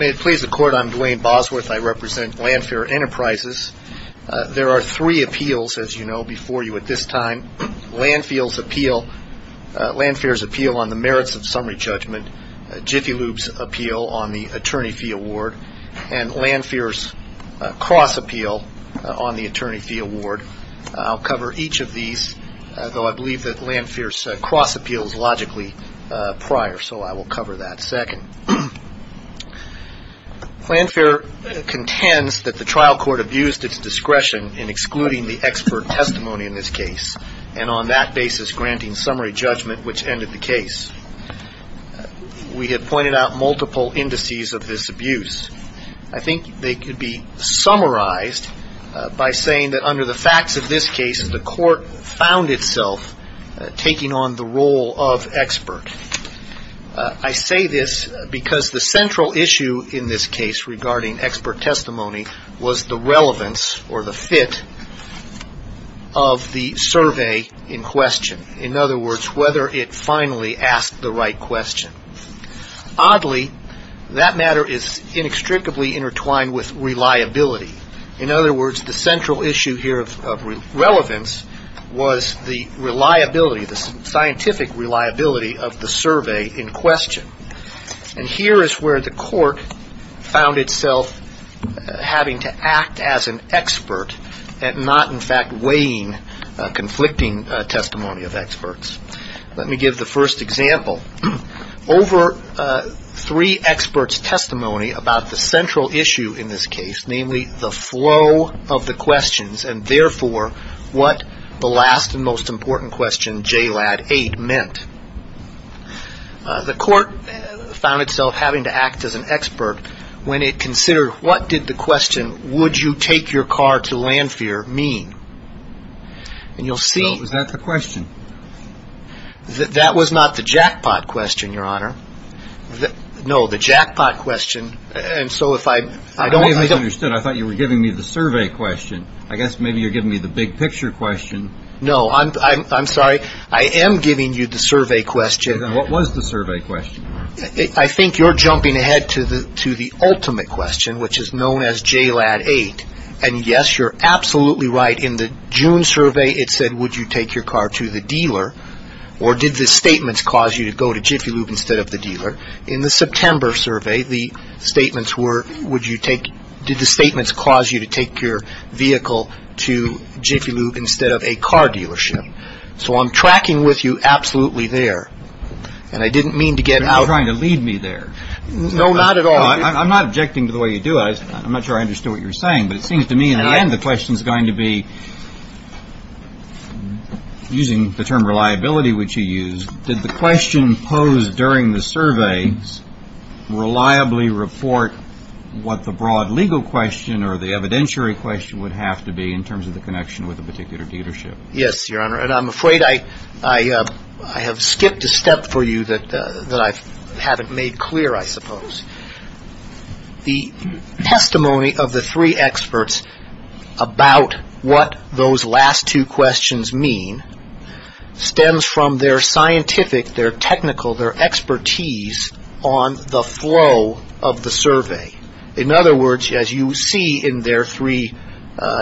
May it please the Court, I'm Dwayne Bosworth. I represent Landphere Enterprises. There are three appeals, as you know, before you at this time. Landphere's appeal on the merits of summary judgment, Jiffy Lube's appeal on the attorney fee award, and Landphere's cross appeal on the attorney fee award. I'll cover each of these, though I believe that Landphere's cross appeal is logically prior, so I will cover that second. Landphere contends that the trial court abused its discretion in excluding the expert testimony in this case and on that basis granting summary judgment, which ended the case. We have pointed out multiple indices of this abuse. I think they could be summarized by saying that under the facts of this case, the court found itself taking on the role of expert. I say this because the central issue in this case regarding expert testimony was the relevance or the fit of the survey in question. In other words, whether it finally asked the right question. Oddly, that matter is inextricably intertwined with reliability. In other words, the central issue here of relevance was the reliability, the scientific reliability of the survey in question. And here is where the court found itself having to act as an expert and not, in fact, weighing conflicting testimony of experts. Let me give the first example. Over three experts' testimony about the central issue in this case, namely the flow of the questions and therefore what the last and most important question, JLAD 8, meant. The court found itself having to act as an expert when it considered what did the question, would you take your car to Landphere, mean? Was that the question? That was not the jackpot question, Your Honor. No, the jackpot question. I thought you were giving me the survey question. I guess maybe you're giving me the big picture question. No, I'm sorry. I am giving you the survey question. What was the survey question? I think you're jumping ahead to the ultimate question, which is known as JLAD 8. And, yes, you're absolutely right. In the June survey, it said, would you take your car to the dealer? Or did the statements cause you to go to Jiffy Lube instead of the dealer? In the September survey, the statements were, would you take, did the statements cause you to take your vehicle to Jiffy Lube instead of a car dealership? So I'm tracking with you absolutely there. And I didn't mean to get out. Are you trying to lead me there? No, not at all. I'm not objecting to the way you do it. I'm not sure I understood what you were saying. But it seems to me, in the end, the question is going to be, using the term reliability, which you used, did the question posed during the survey reliably report what the broad legal question or the evidentiary question would have to be in terms of the connection with a particular dealership? Yes, Your Honor. And I'm afraid I have skipped a step for you that I haven't made clear, I suppose. The testimony of the three experts about what those last two questions mean stems from their scientific, their technical, their expertise on the flow of the survey. In other words, as you see in their three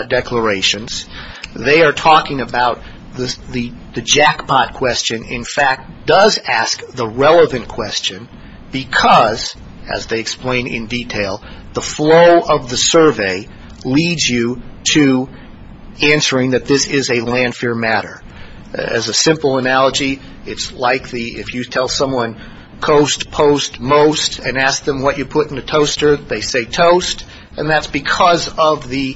declarations, they are talking about the jackpot question, in fact, does ask the relevant question because, as they explain in detail, the flow of the survey leads you to answering that this is a land fair matter. As a simple analogy, it's like if you tell someone coast, post, most, and ask them what you put in a toaster, they say toast, and that's because of the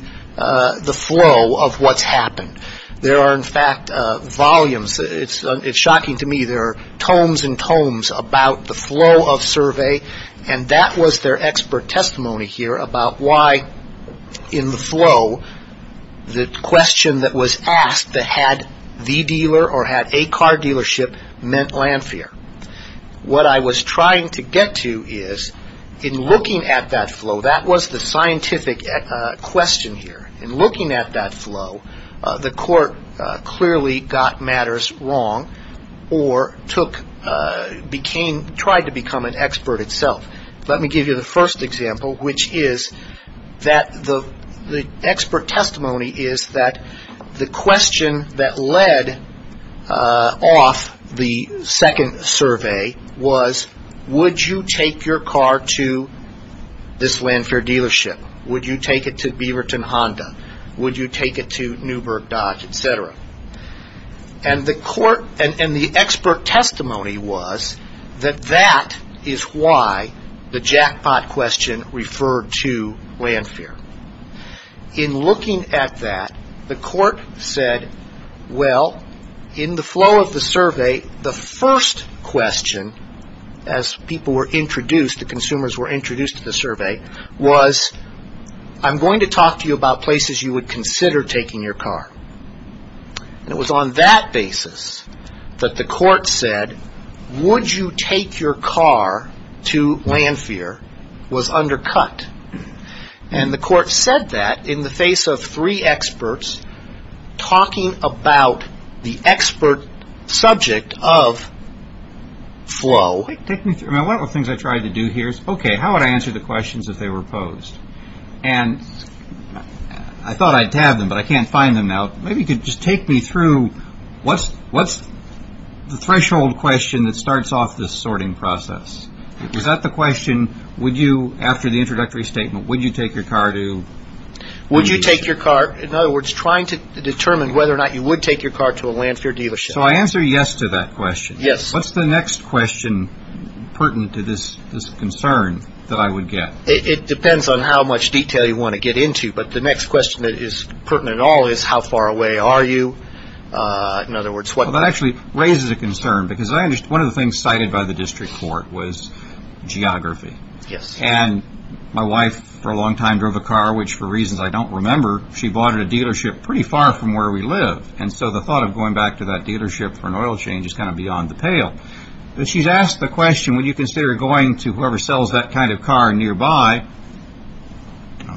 flow of what's happened. There are, in fact, volumes, it's shocking to me, there are tomes and tomes about the flow of survey, and that was their expert testimony here about why, in the flow, the question that was asked that had the dealer or had a car dealership meant land fair. What I was trying to get to is, in looking at that flow, that was the scientific question here. In looking at that flow, the court clearly got matters wrong or tried to become an expert itself. Let me give you the first example, which is that the expert testimony is that the question that led off the second survey was, would you take your car to this land fair dealership? Would you take it to Beaverton Honda? Would you take it to Newburgh Dodge, et cetera? And the expert testimony was that that is why the jackpot question referred to land fair. In looking at that, the court said, well, in the flow of the survey, the first question, as people were introduced, the consumers were introduced to the survey, was, I'm going to talk to you about places you would consider taking your car. And it was on that basis that the court said, would you take your car to land fair, was undercut. And the court said that in the face of three experts talking about the expert subject of flow. One of the things I tried to do here is, okay, how would I answer the questions if they were posed? And I thought I'd have them, but I can't find them now. Maybe you could just take me through, what's the threshold question that starts off this sorting process? Is that the question, would you, after the introductory statement, would you take your car to? Would you take your car? In other words, trying to determine whether or not you would take your car to a land fair dealership. So I answer yes to that question. Yes. What's the next question pertinent to this concern that I would get? It depends on how much detail you want to get into. But the next question that is pertinent at all is, how far away are you? That actually raises a concern, because one of the things cited by the district court was geography. And my wife for a long time drove a car, which for reasons I don't remember, she bought at a dealership pretty far from where we live. And so the thought of going back to that dealership for an oil change is kind of beyond the pale. But she's asked the question, would you consider going to whoever sells that kind of car nearby?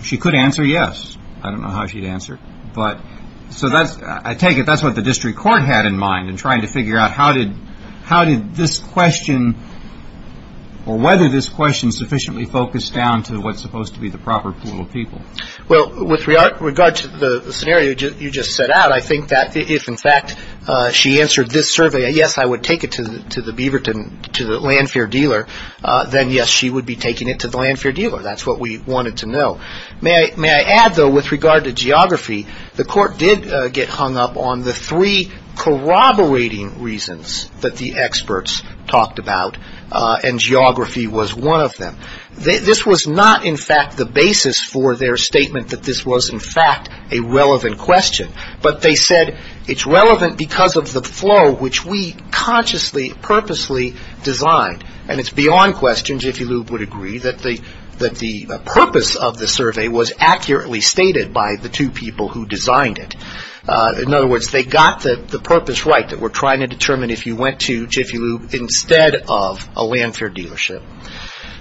She could answer yes. I don't know how she'd answer. So I take it that's what the district court had in mind in trying to figure out how did this question or whether this question sufficiently focused down to what's supposed to be the proper pool of people. Well, with regard to the scenario you just set out, I think that if, in fact, she answered this survey, yes, I would take it to the Beaverton, to the land fair dealer, then yes, she would be taking it to the land fair dealer. That's what we wanted to know. May I add, though, with regard to geography, the court did get hung up on the three corroborating reasons that the experts talked about, and geography was one of them. This was not, in fact, the basis for their statement that this was, in fact, a relevant question. But they said it's relevant because of the flow which we consciously, purposely designed. And it's beyond question, Jiffy Lube would agree, that the purpose of the survey was accurately stated by the two people who designed it. In other words, they got the purpose right that we're trying to determine if you went to Jiffy Lube instead of a land fair dealership.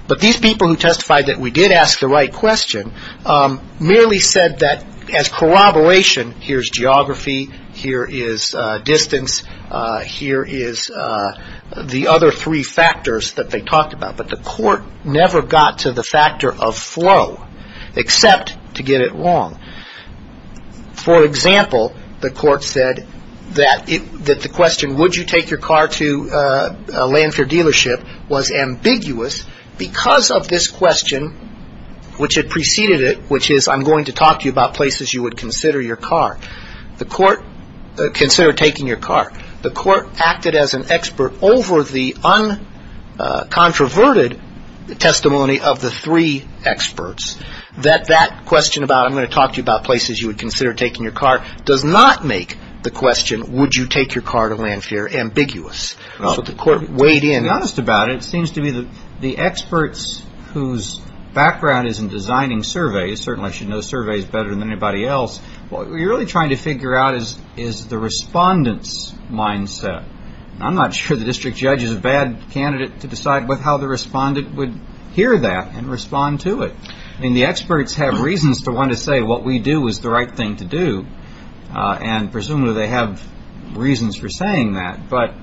But these people who testified that we did ask the right question merely said that as corroboration, here's geography, here is distance, here is the other three factors that they talked about. But the court never got to the factor of flow except to get it wrong. For example, the court said that the question, would you take your car to a land fair dealership, because of this question which had preceded it, which is I'm going to talk to you about places you would consider your car. The court considered taking your car. The court acted as an expert over the uncontroverted testimony of the three experts that that question about I'm going to talk to you about places you would consider taking your car does not make the question, would you take your car to a land fair, ambiguous. So the court weighed in. To be honest about it, it seems to me that the experts whose background is in designing surveys, certainly I should know surveys better than anybody else, what we're really trying to figure out is the respondent's mindset. I'm not sure the district judge is a bad candidate to decide with how the respondent would hear that and respond to it. I mean, the experts have reasons to want to say what we do is the right thing to do, and presumably they have reasons for saying that. But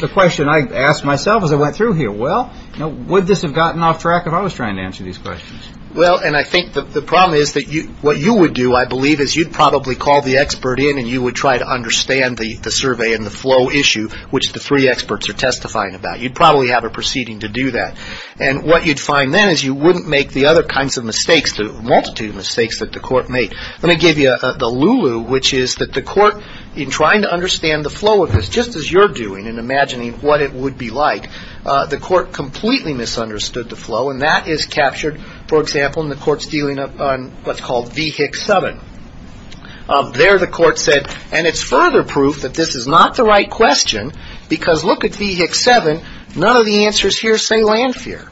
the question I asked myself as I went through here, well, would this have gotten off track if I was trying to answer these questions? Well, and I think the problem is that what you would do, I believe, is you'd probably call the expert in, and you would try to understand the survey and the flow issue, which the three experts are testifying about. You'd probably have a proceeding to do that. And what you'd find then is you wouldn't make the other kinds of mistakes, the multitude of mistakes that the court made. Let me give you the Lulu, which is that the court, in trying to understand the flow of this, just as you're doing in imagining what it would be like, the court completely misunderstood the flow, and that is captured, for example, in the courts dealing on what's called VHIC 7. There the court said, and it's further proof that this is not the right question, because look at VHIC 7. None of the answers here say land fear.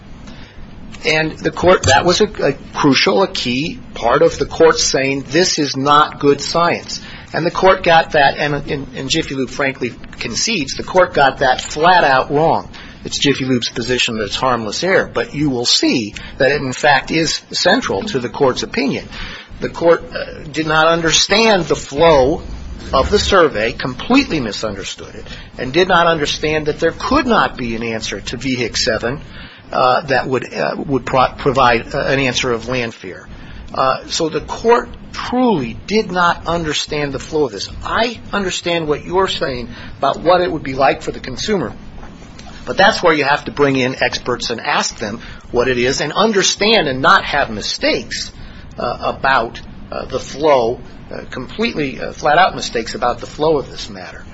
And the court, that was a crucial, a key part of the court saying this is not good science. And the court got that, and Jiffy Lube frankly concedes, the court got that flat out wrong. It's Jiffy Lube's position that it's harmless error, but you will see that it in fact is central to the court's opinion. The court did not understand the flow of the survey, completely misunderstood it, and did not understand that there could not be an answer to VHIC 7 that would provide an answer of land fear. So the court truly did not understand the flow of this. I understand what you're saying about what it would be like for the consumer, but that's where you have to bring in experts and ask them what it is, and understand and not have mistakes about the flow, completely flat out mistakes about the flow of this matter.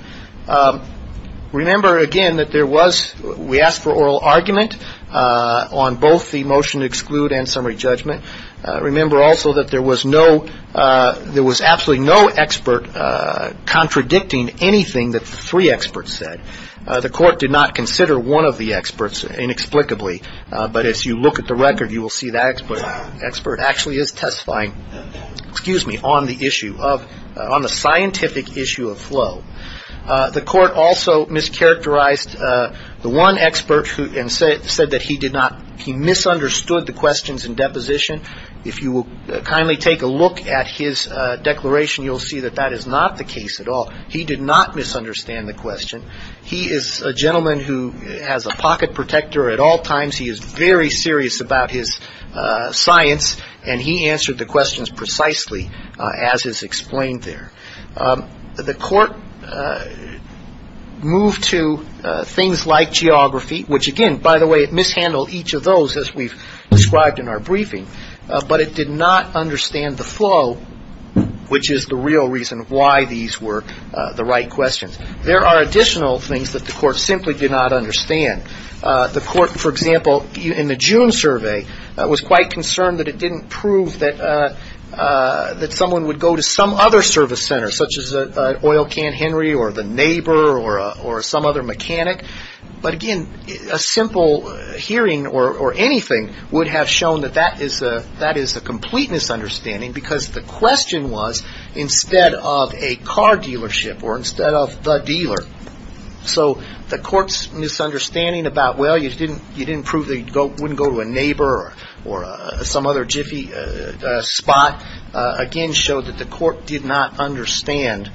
Remember again that there was, we asked for oral argument on both the motion to exclude and summary judgment. Remember also that there was no, there was absolutely no expert contradicting anything that the three experts said. The court did not consider one of the experts inexplicably, but as you look at the record you will see that expert actually is testifying, excuse me, on the issue of, on the scientific issue of flow. The court also mischaracterized the one expert who said that he did not, he misunderstood the questions in deposition. If you will kindly take a look at his declaration, you'll see that that is not the case at all. He did not misunderstand the question, he is a gentleman who has a pocket protector at all times, he is very serious about his science, and he answered the questions precisely as is explained there. The court moved to things like geography, which again, by the way, it mishandled each of those as we've described in our briefing, but it did not understand the flow, which is the real reason why these were the right questions. There are additional things that the court simply did not understand. The court, for example, in the June survey was quite concerned that it didn't prove that someone would go to some other service center, such as an oil can Henry or the neighbor or some other mechanic, but again, a simple hearing or anything would have shown that that is a complete misunderstanding, because the question was instead of a car dealership or instead of the dealer. So the court's misunderstanding about, well, you didn't prove that you wouldn't go to a neighbor or some other jiffy spot, again showed that the court did not understand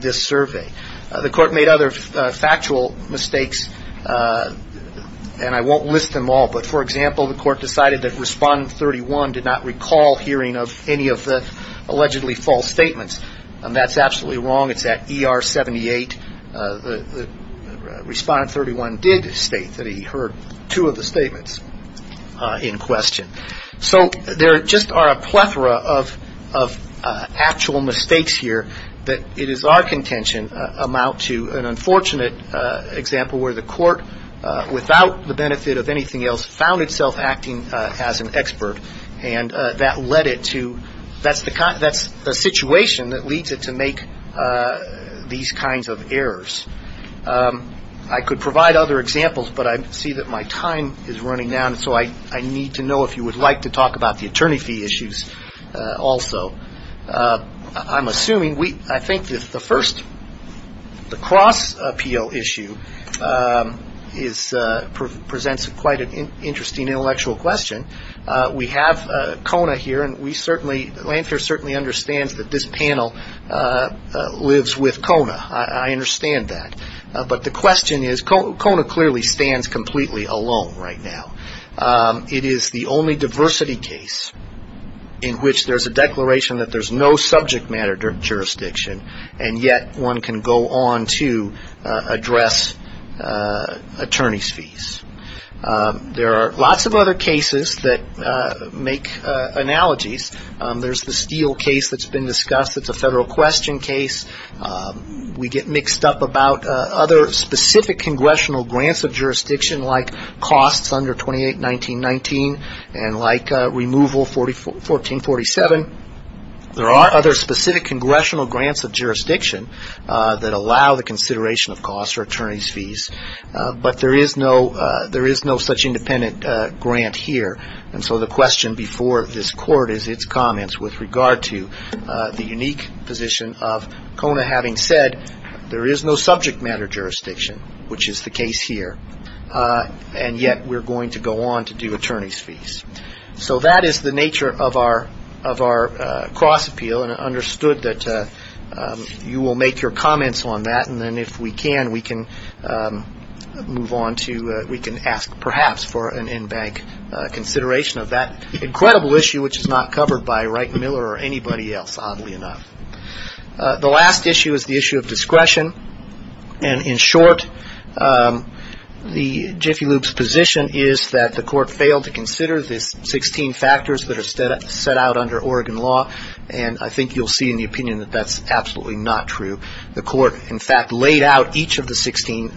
this survey. The court made other factual mistakes, and I won't list them all, but for example, the court decided that Respondent 31 did not recall hearing of any of the allegedly false statements. That's absolutely wrong. It's at ER 78. Respondent 31 did state that he heard two of the statements in question. So there just are a plethora of actual mistakes here that it is our contention amount to an unfortunate example where the court, without the benefit of anything else, found itself acting as an expert, and that led it to that's the situation that leads it to make these kinds of errors. I could provide other examples, but I see that my time is running down, so I need to know if you would like to talk about the attorney fee issues also. I'm assuming, I think the first, the cross appeal issue presents quite an interesting intellectual question. We have Kona here, and Lanphier certainly understands that this panel lives with Kona. I understand that, but the question is Kona clearly stands completely alone right now. It is the only diversity case in which there's a declaration that there's no subject matter jurisdiction, and yet one can go on to address attorney's fees. There are lots of other cases that make analogies. There's the Steele case that's been discussed that's a federal question case. We get mixed up about other specific congressional grants of jurisdiction like costs under 281919 and like removal 1447. There are other specific congressional grants of jurisdiction that allow the consideration of costs or attorney's fees, but there is no such independent grant here, and so the question before this court is its comments with regard to the unique position of Kona, having said there is no subject matter jurisdiction, which is the case here, and yet we're going to go on to do attorney's fees. So that is the nature of our cross appeal, and I understood that you will make your comments on that, and then if we can, we can move on to, we can ask perhaps for an in-bank consideration of that incredible issue, which is not covered by Wright Miller or anybody else, oddly enough. The last issue is the issue of discretion, and in short, the Jiffy Loop's position is that the court failed to consider the 16 factors that are set out under Oregon law, and I think you'll see in the opinion that that's absolutely not true. The court, in fact, laid out each of the 16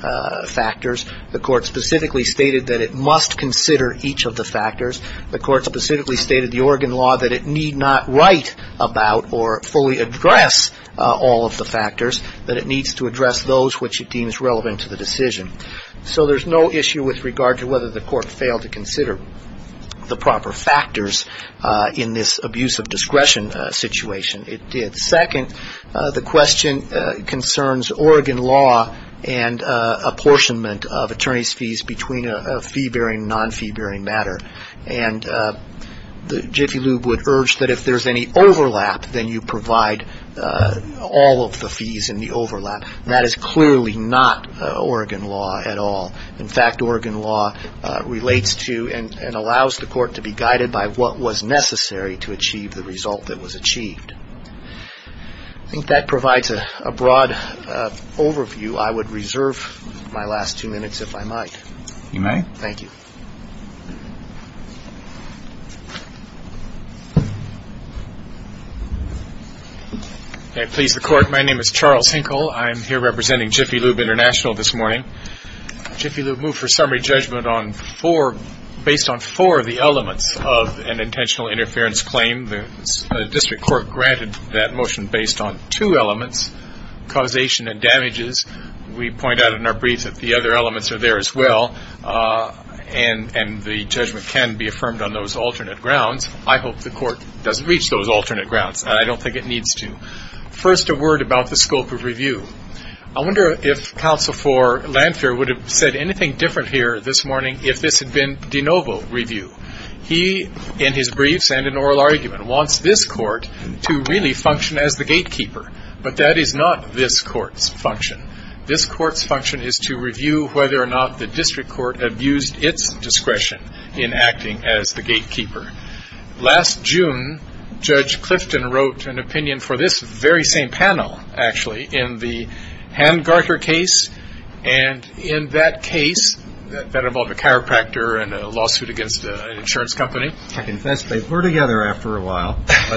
factors. The court specifically stated that it must consider each of the factors. The court specifically stated the Oregon law that it need not write about or fully address all of the factors, that it needs to address those which it deems relevant to the decision. So there's no issue with regard to whether the court failed to consider the proper factors in this abuse of discretion situation. It did. Second, the question concerns Oregon law and apportionment of attorney's fees between a fee-bearing and non-fee-bearing matter, and the Jiffy Loop would urge that if there's any overlap, then you provide all of the fees in the overlap. That is clearly not Oregon law at all. In fact, Oregon law relates to and allows the court to be guided by what was necessary to achieve the result that was achieved. I think that provides a broad overview. I would reserve my last two minutes if I might. You may. Thank you. May it please the Court, my name is Charles Hinkle. I'm here representing Jiffy Loop International this morning. Jiffy Loop moved for summary judgment based on four of the elements of an intentional interference claim. The district court granted that motion based on two elements, causation and damages. We point out in our briefs that the other elements are there as well, and the judgment can be affirmed on those alternate grounds. I hope the court does reach those alternate grounds. I don't think it needs to. I wonder if counsel for Lanphier would have said anything different here this morning if this had been de novo review. He, in his briefs and in oral argument, wants this court to really function as the gatekeeper. But that is not this court's function. This court's function is to review whether or not the district court abused its discretion in acting as the gatekeeper. Last June, Judge Clifton wrote an opinion for this very same panel, actually, in the Handgarter case. And in that case, that involved a chiropractor and a lawsuit against an insurance company. I confess they were together after a while. And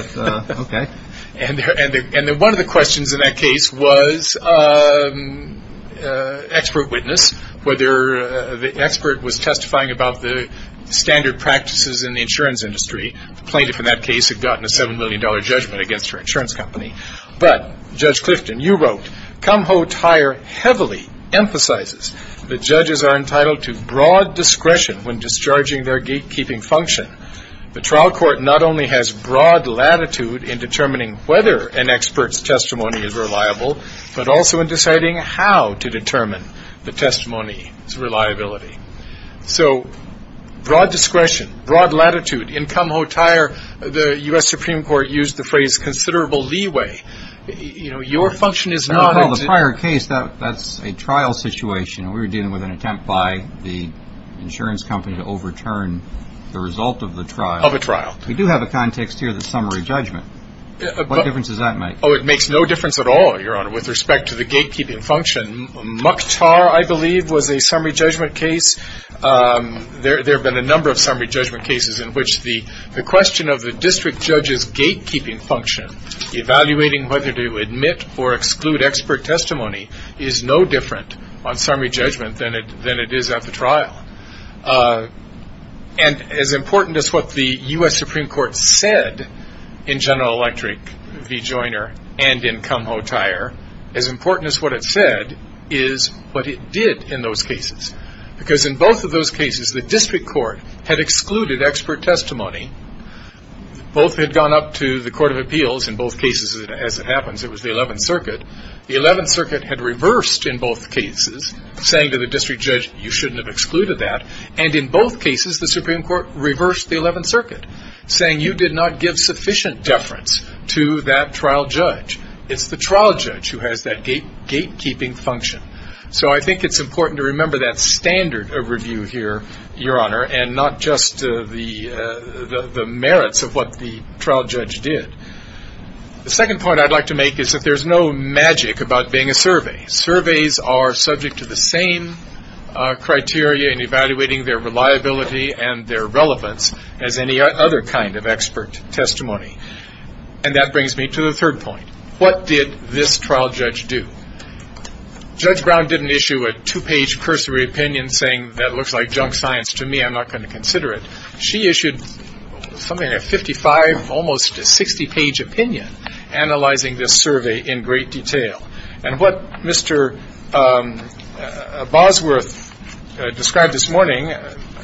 one of the questions in that case was expert witness, whether the expert was testifying about the standard practices in the insurance industry. The plaintiff in that case had gotten a $7 million judgment against her insurance company. But, Judge Clifton, you wrote, the judges are entitled to broad discretion when discharging their gatekeeping function. The trial court not only has broad latitude in determining whether an expert's testimony is reliable, but also in deciding how to determine the testimony's reliability. So broad discretion, broad latitude. In Kumho Tire, the U.S. Supreme Court used the phrase considerable leeway. Your function is not to In the prior case, that's a trial situation. We were dealing with an attempt by the insurance company to overturn the result of the trial. Of a trial. We do have a context here, the summary judgment. What difference does that make? Oh, it makes no difference at all, Your Honor, with respect to the gatekeeping function. Mukhtar, I believe, was a summary judgment case. There have been a number of summary judgment cases in which the question of the district judge's gatekeeping function, evaluating whether to admit or exclude expert testimony, is no different on summary judgment than it is at the trial. And as important as what the U.S. Supreme Court said in General Electric v. Joyner and in Kumho Tire, as important as what it said is what it did in those cases. Because in both of those cases, the district court had excluded expert testimony. Both had gone up to the Court of Appeals in both cases, as it happens. It was the 11th Circuit. The 11th Circuit had reversed in both cases, saying to the district judge, you shouldn't have excluded that. And in both cases, the Supreme Court reversed the 11th Circuit, saying you did not give sufficient deference to that trial judge. It's the trial judge who has that gatekeeping function. So I think it's important to remember that standard of review here, Your Honor, and not just the merits of what the trial judge did. The second point I'd like to make is that there's no magic about being a survey. Surveys are subject to the same criteria in evaluating their reliability and their relevance as any other kind of expert testimony. And that brings me to the third point. What did this trial judge do? Judge Brown didn't issue a two-page cursory opinion saying, that looks like junk science to me, I'm not going to consider it. She issued something like 55, almost a 60-page opinion, analyzing this survey in great detail. And what Mr. Bosworth described this morning,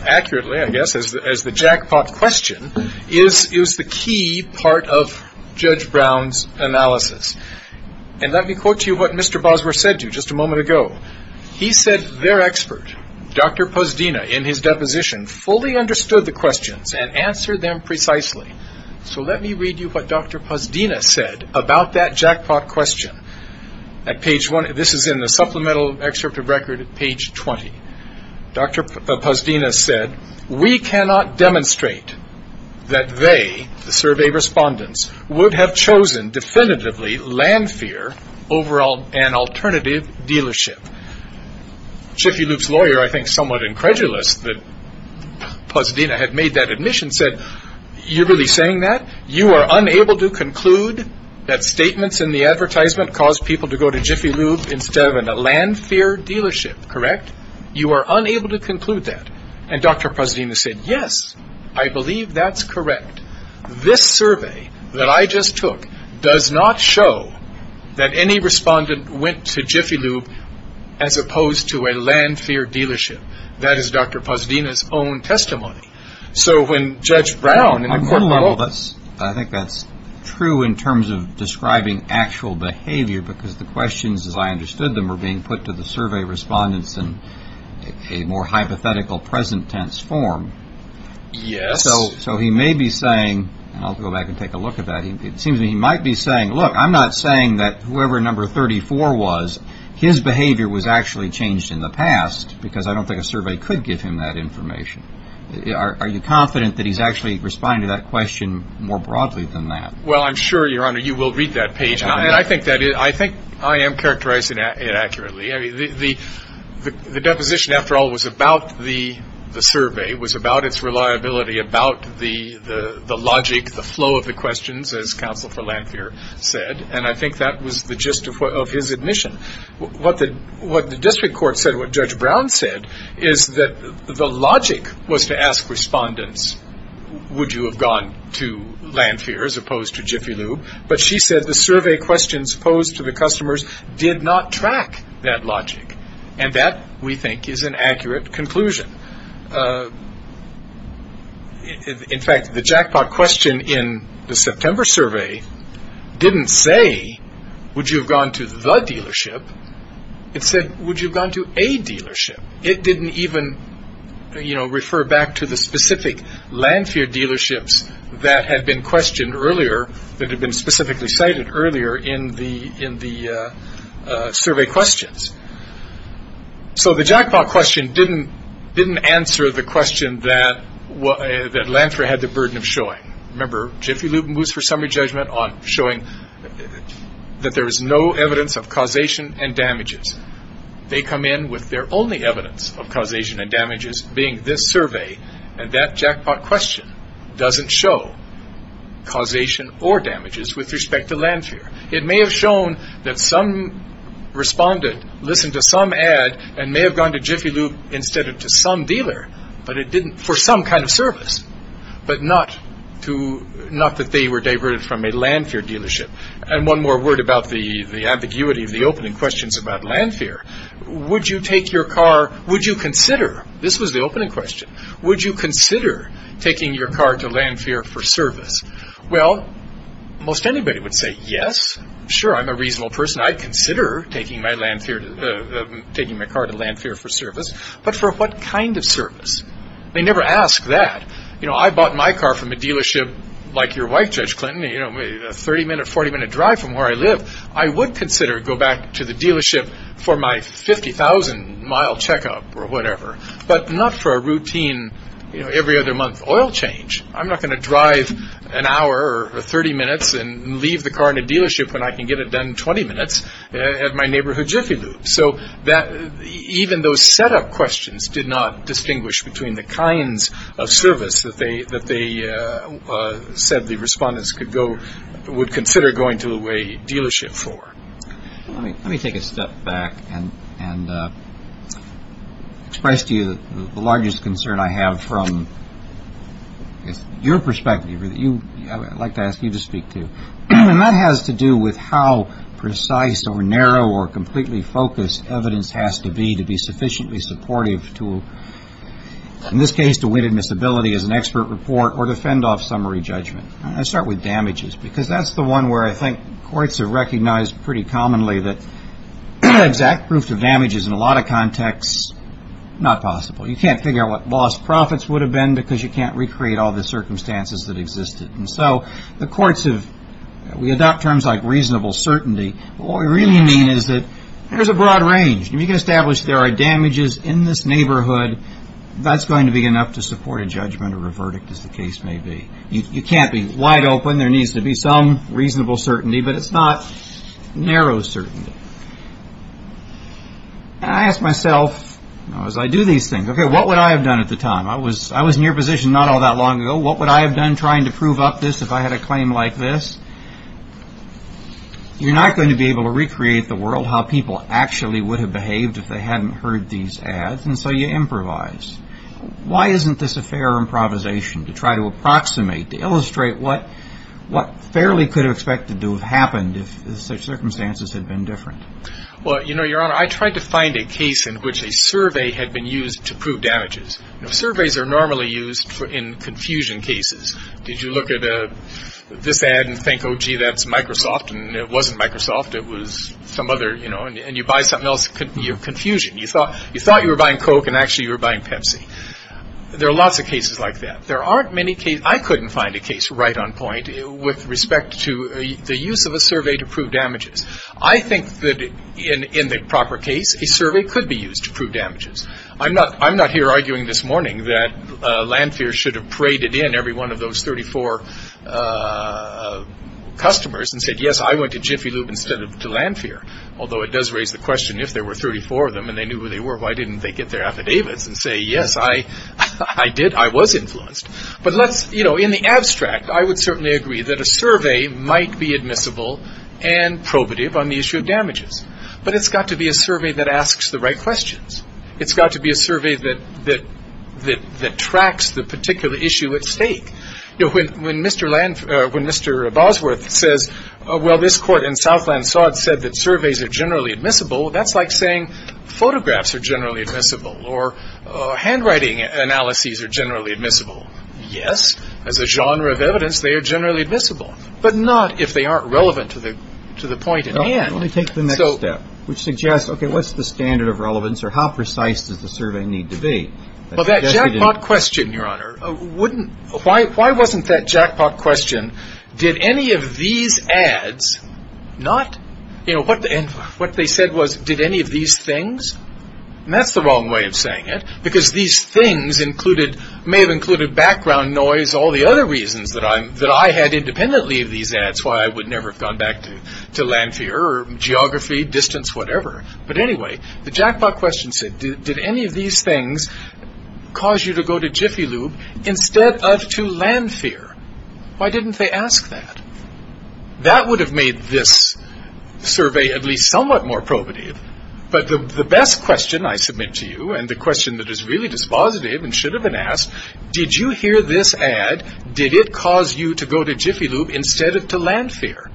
accurately, I guess, as the jackpot question, is the key part of Judge Brown's analysis. And let me quote to you what Mr. Bosworth said to you just a moment ago. He said their expert, Dr. Posdina, in his deposition, fully understood the questions and answered them precisely. So let me read you what Dr. Posdina said about that jackpot question. This is in the supplemental excerpt of record, page 20. Dr. Posdina said, We cannot demonstrate that they, the survey respondents, would have chosen definitively Landfear over an alternative dealership. Jiffy Lube's lawyer, I think somewhat incredulous that Posdina had made that admission, said, you're really saying that? You are unable to conclude that statements in the advertisement caused people to go to Jiffy Lube instead of a Landfear dealership, correct? You are unable to conclude that. And Dr. Posdina said, yes, I believe that's correct. This survey that I just took does not show that any respondent went to Jiffy Lube as opposed to a Landfear dealership. That is Dr. Posdina's own testimony. So when Judge Brown and the court leveled us, I think that's true in terms of describing actual behavior because the questions, as I understood them, were being put to the survey respondents in a more hypothetical present tense form. Yes. So he may be saying, and I'll go back and take a look at that, it seems to me he might be saying, look, I'm not saying that whoever number 34 was, his behavior was actually changed in the past because I don't think a survey could give him that information. Are you confident that he's actually responding to that question more broadly than that? Well, I'm sure, Your Honor, you will read that page. I think I am characterizing it accurately. The deposition, after all, was about the survey, was about its reliability, about the logic, the flow of the questions, as counsel for Landfear said, and I think that was the gist of his admission. What the district court said, what Judge Brown said, is that the logic was to ask respondents, would you have gone to Landfear as opposed to Jiffy Lube? But she said the survey questions posed to the customers did not track that logic, and that, we think, is an accurate conclusion. In fact, the jackpot question in the September survey didn't say, would you have gone to the dealership? It said, would you have gone to a dealership? It didn't even refer back to the specific Landfear dealerships that had been questioned earlier, that had been specifically cited earlier in the survey questions. So the jackpot question didn't answer the question that Landfear had the burden of showing. Remember, Jiffy Lube moves for summary judgment on showing that there is no evidence of causation and damages. They come in with their only evidence of causation and damages being this survey, and that jackpot question doesn't show causation or damages with respect to Landfear. It may have shown that some respondent listened to some ad and may have gone to Jiffy Lube instead of to some dealer for some kind of service, but not that they were diverted from a Landfear dealership. And one more word about the ambiguity of the opening questions about Landfear. Would you take your car, would you consider, this was the opening question, would you consider taking your car to Landfear for service? Well, most anybody would say yes. Sure, I'm a reasonable person. I'd consider taking my car to Landfear for service. But for what kind of service? They never ask that. I bought my car from a dealership like your wife, Judge Clinton, a 30-minute, 40-minute drive from where I live. I would consider going back to the dealership for my 50,000-mile checkup or whatever, but not for a routine every-other-month oil change. I'm not going to drive an hour or 30 minutes and leave the car in a dealership when I can get it done in 20 minutes at my neighborhood Jiffy Lube. So even those setup questions did not distinguish between the kinds of service that they said the respondents would consider going to a dealership for. Let me take a step back and express to you the largest concern I have from your perspective. I'd like to ask you to speak, too. And that has to do with how precise or narrow or completely focused evidence has to be to be sufficiently supportive to, in this case, to win admissibility as an expert report or to fend off summary judgment. I start with damages because that's the one where I think courts have recognized pretty commonly that exact proof of damages in a lot of contexts, not possible. You can't figure out what lost profits would have been because you can't recreate all the circumstances that existed. And so the courts have, we adopt terms like reasonable certainty. What we really mean is that there's a broad range. If you can establish there are damages in this neighborhood, that's going to be enough to support a judgment or a verdict, as the case may be. You can't be wide open. There needs to be some reasonable certainty, but it's not narrow certainty. And I ask myself, as I do these things, okay, what would I have done at the time? I was in your position not all that long ago. What would I have done trying to prove up this if I had a claim like this? You're not going to be able to recreate the world, how people actually would have behaved if they hadn't heard these ads. And so you improvise. Why isn't this a fair improvisation to try to approximate, to illustrate what fairly could have expected to have happened if the circumstances had been different? Well, you know, Your Honor, I tried to find a case in which a survey had been used to prove damages. Surveys are normally used in confusion cases. Did you look at this ad and think, oh, gee, that's Microsoft? And it wasn't Microsoft, it was some other, you know, and you buy something else, you're in confusion. You thought you were buying Coke and actually you were buying Pepsi. There are lots of cases like that. There aren't many cases, I couldn't find a case right on point with respect to the use of a survey to prove damages. I think that in the proper case, a survey could be used to prove damages. I'm not here arguing this morning that Landfear should have paraded in every one of those 34 customers and said, yes, I went to Jiffy Lube instead of to Landfear, although it does raise the question if there were 34 of them and they knew who they were, why didn't they get their affidavits and say, yes, I did, I was influenced. But, you know, in the abstract, I would certainly agree that a survey might be admissible and probative on the issue of damages, but it's got to be a survey that asks the right questions. It's got to be a survey that tracks the particular issue at stake. You know, when Mr. Bosworth says, well, this court in Southland-Sod said that surveys are generally admissible, that's like saying photographs are generally admissible or handwriting analyses are generally admissible. Yes, as a genre of evidence, they are generally admissible, but not if they aren't relevant to the point at hand. Let me take the next step, which suggests, okay, what's the standard of relevance or how precise does the survey need to be? Well, that jackpot question, Your Honor, wouldn't – why wasn't that jackpot question, did any of these ads not – you know, what they said was, did any of these things – and that's the wrong way of saying it, because these things may have included background noise, all the other reasons that I had independently of these ads, why I would never have gone back to land fear or geography, distance, whatever. But anyway, the jackpot question said, did any of these things cause you to go to Jiffy Lube instead of to land fear? Why didn't they ask that? That would have made this survey at least somewhat more probative, but the best question I submit to you and the question that is really dispositive and should have been asked, did you hear this ad, did it cause you to go to Jiffy Lube instead of to land fear?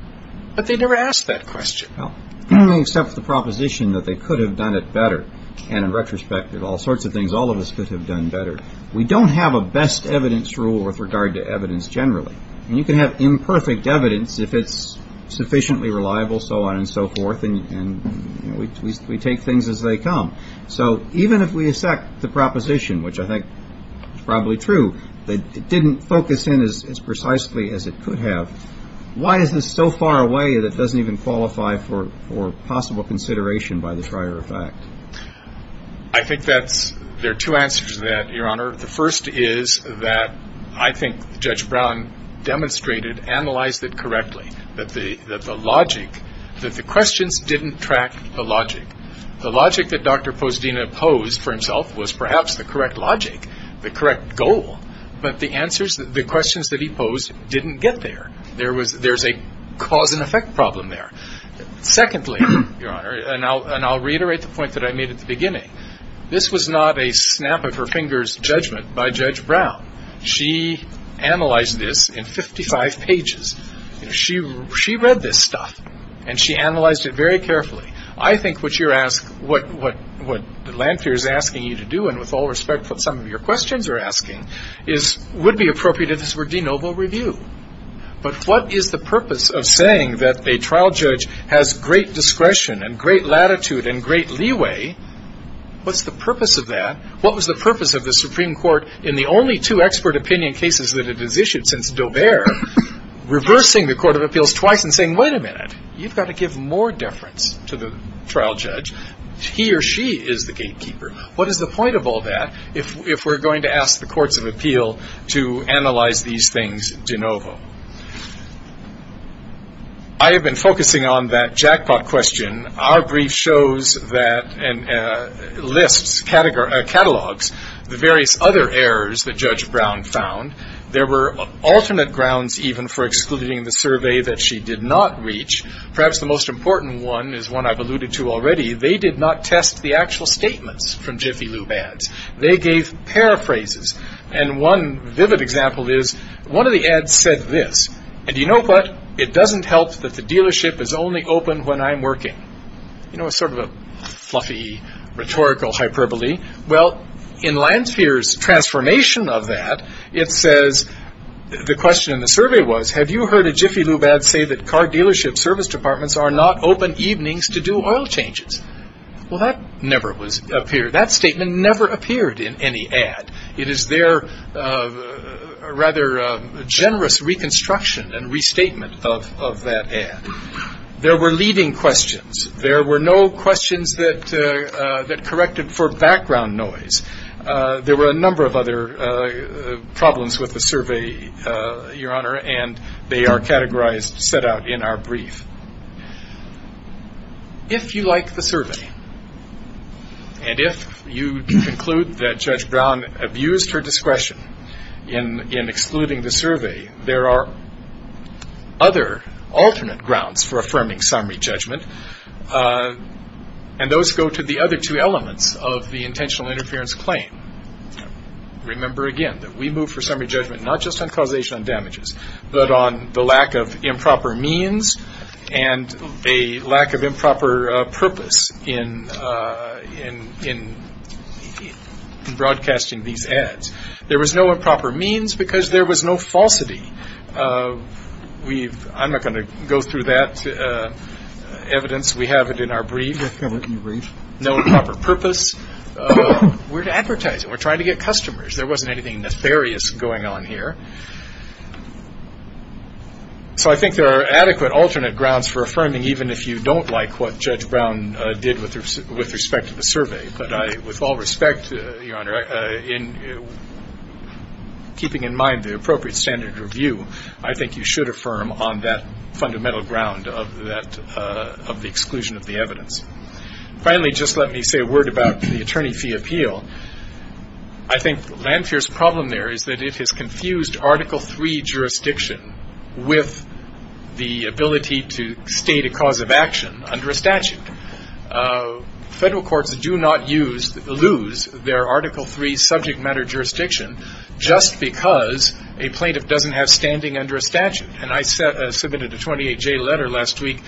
But they never asked that question. Well, they accept the proposition that they could have done it better, and in retrospect, there are all sorts of things all of us could have done better. We don't have a best evidence rule with regard to evidence generally. And you can have imperfect evidence if it's sufficiently reliable, so on and so forth, and we take things as they come. So even if we accept the proposition, which I think is probably true, that it didn't focus in as precisely as it could have, why is this so far away that it doesn't even qualify for possible consideration by the prior effect? I think there are two answers to that, Your Honor. The first is that I think Judge Brown demonstrated, analyzed it correctly, that the logic, that the questions didn't track the logic. The logic that Dr. Posdina posed for himself was perhaps the correct logic, the correct goal, but the answers, the questions that he posed didn't get there. There's a cause and effect problem there. Secondly, Your Honor, and I'll reiterate the point that I made at the beginning, this was not a snap of her fingers judgment by Judge Brown. She analyzed this in 55 pages. She read this stuff, and she analyzed it very carefully. I think what you're asking, what Lanphier is asking you to do, and with all respect what some of your questions are asking, would be appropriate if this were de novo review. But what is the purpose of saying that a trial judge has great discretion and great latitude and great leeway, what's the purpose of that? What was the purpose of the Supreme Court, in the only two expert opinion cases that it has issued since Daubert, reversing the Court of Appeals twice and saying, wait a minute, you've got to give more deference to the trial judge. He or she is the gatekeeper. What is the point of all that if we're going to ask the Courts of Appeal to analyze these things de novo? I have been focusing on that jackpot question. Our brief shows that and lists, catalogs, the various other errors that Judge Brown found. There were alternate grounds even for excluding the survey that she did not reach. Perhaps the most important one is one I've alluded to already. They did not test the actual statements from Jiffy Lube ads. They gave paraphrases. One vivid example is one of the ads said this, and you know what, it doesn't help that the dealership is only open when I'm working. Sort of a fluffy rhetorical hyperbole. In Lansphere's transformation of that, it says, the question in the survey was, have you heard a Jiffy Lube ad say that car dealership service departments are not open evenings to do oil changes? That statement never appeared in any ad. It is their rather generous reconstruction and restatement of that ad. There were leading questions. There were no questions that corrected for background noise. There were a number of other problems with the survey, Your Honor, and they are categorized, set out in our brief. If you like the survey, and if you conclude that Judge Brown abused her discretion in excluding the survey, there are other alternate grounds for affirming summary judgment, and those go to the other two elements of the intentional interference claim. Remember again that we move for summary judgment not just on causation and damages, but on the lack of improper means and a lack of improper purpose in broadcasting these ads. There was no improper means because there was no falsity. I'm not going to go through that evidence. We have it in our brief. No improper purpose. We're advertising. We're trying to get customers. There wasn't anything nefarious going on here. So I think there are adequate alternate grounds for affirming, even if you don't like what Judge Brown did with respect to the survey. But with all respect, Your Honor, keeping in mind the appropriate standard of review, I think you should affirm on that fundamental ground of the exclusion of the evidence. Finally, just let me say a word about the attorney fee appeal. I think Lanthier's problem there is that it has confused Article III jurisdiction with the ability to state a cause of action under a statute. Federal courts do not use or lose their Article III subject matter jurisdiction just because a plaintiff doesn't have standing under a statute. And I submitted a 28-J letter last week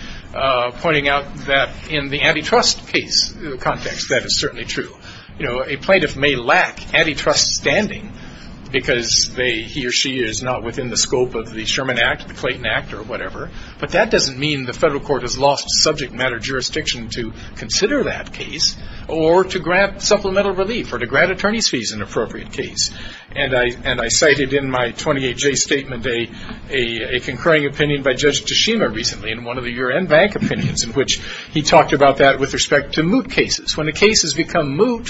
pointing out that in the antitrust case context, that is certainly true. A plaintiff may lack antitrust standing because he or she is not within the scope of the Sherman Act, the Clayton Act, or whatever, but that doesn't mean the federal court has lost subject matter jurisdiction to consider that case or to grant supplemental relief or to grant attorney's fees in an appropriate case. And I cited in my 28-J statement a concurring opinion by Judge Tashima recently in one of the U.N. Bank opinions in which he talked about that with respect to moot cases. When a case has become moot,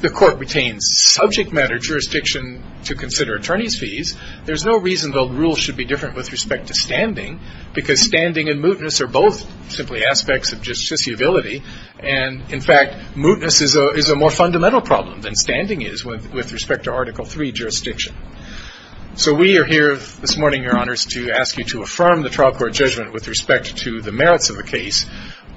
the court retains subject matter jurisdiction to consider attorney's fees. There's no reason the rules should be different with respect to standing because standing and mootness are both simply aspects of justiciability. And, in fact, mootness is a more fundamental problem than standing is with respect to Article III jurisdiction. So we are here this morning, Your Honors, to ask you to affirm the trial court judgment with respect to the merits of the case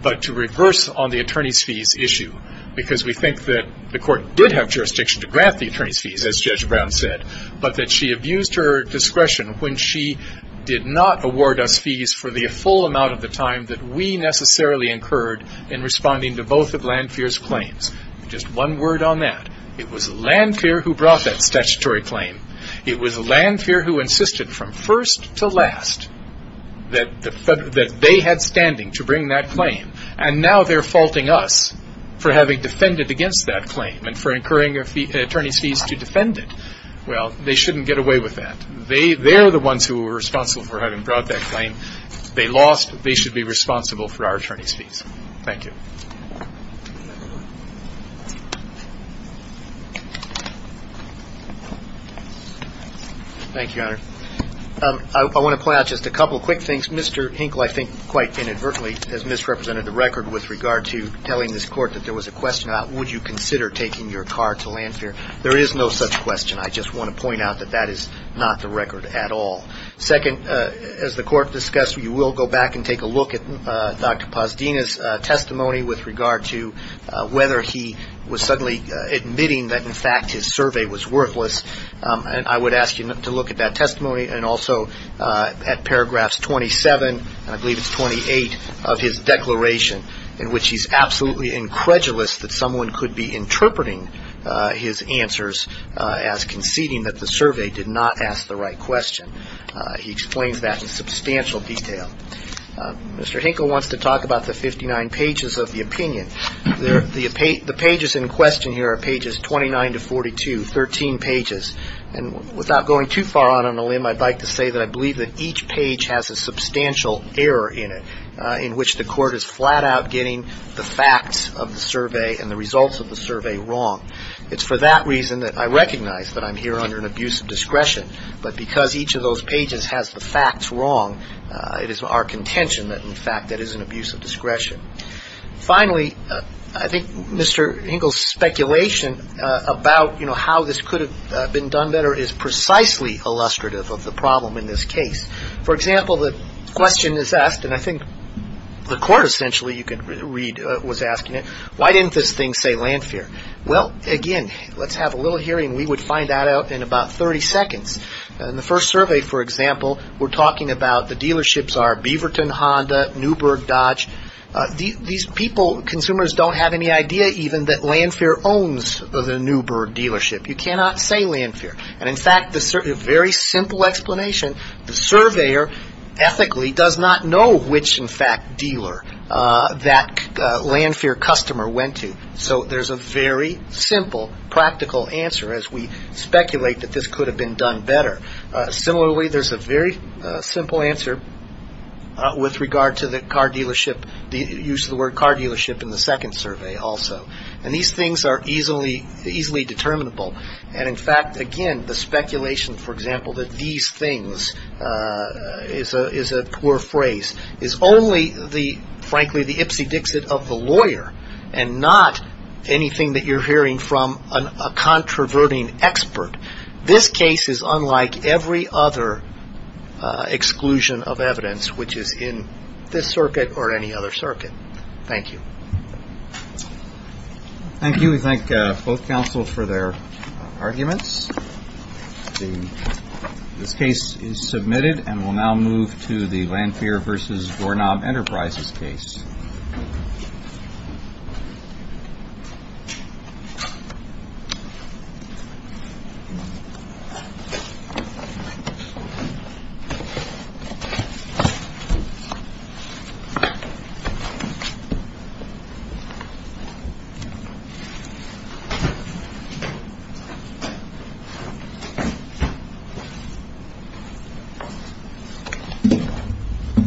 but to reverse on the attorney's fees issue because we think that the court did have jurisdiction to grant the attorney's fees, as Judge Brown said, but that she abused her discretion when she did not award us fees for the full amount of the time that we necessarily incurred in responding to both of Landfear's claims. Just one word on that. It was Landfear who brought that statutory claim. It was Landfear who insisted from first to last that they had standing to bring that claim. And now they're faulting us for having defended against that claim and for incurring attorney's fees to defend it. Well, they shouldn't get away with that. They're the ones who were responsible for having brought that claim. They lost. They should be responsible for our attorney's fees. Thank you. Thank you, Your Honor. I want to point out just a couple of quick things. Mr. Hinkle, I think, quite inadvertently has misrepresented the record with regard to telling this court that there was a question about would you consider taking your car to Landfear. There is no such question. I just want to point out that that is not the record at all. Second, as the court discussed, you will go back and take a look at Dr. Pazdina's testimony with regard to whether he was suddenly admitting that, in fact, his survey was worthless. And I would ask you to look at that testimony and also at paragraphs 27 and I believe it's 28 of his declaration in which he's absolutely incredulous that someone could be interpreting his answers as conceding that the survey did not ask the right question. He explains that in substantial detail. Mr. Hinkle wants to talk about the 59 pages of the opinion. The pages in question here are pages 29 to 42, 13 pages. And without going too far on a limb, I'd like to say that I believe that each page has a substantial error in it in which the court is flat out getting the facts of the survey and the results of the survey wrong. It's for that reason that I recognize that I'm here under an abuse of discretion. But because each of those pages has the facts wrong, it is our contention that, in fact, that is an abuse of discretion. Finally, I think Mr. Hinkle's speculation about, you know, how this could have been done better is precisely illustrative of the problem in this case. For example, the question is asked, and I think the court essentially, you can read, was asking it, why didn't this thing say landfear? Well, again, let's have a little hearing. We would find that out in about 30 seconds. In the first survey, for example, we're talking about the dealerships are Beaverton, Honda, Newberg, Dodge. These people, consumers, don't have any idea even that Landfair owns the Newberg dealership. You cannot say Landfair. And, in fact, the very simple explanation, the surveyor ethically does not know which, in fact, dealer that Landfair customer went to. So there's a very simple, practical answer as we speculate that this could have been done better. Similarly, there's a very simple answer with regard to the car dealership, the use of the word car dealership in the second survey also. And these things are easily determinable. And, in fact, again, the speculation, for example, that these things is a poor phrase, is only, frankly, the ipsy dixit of the lawyer and not anything that you're hearing from a controverting expert. This case is unlike every other exclusion of evidence which is in this circuit or any other circuit. Thank you. Thank you. We thank both counsel for their arguments. This case is submitted and will now move to the Landfair v. Landfair v. Landfair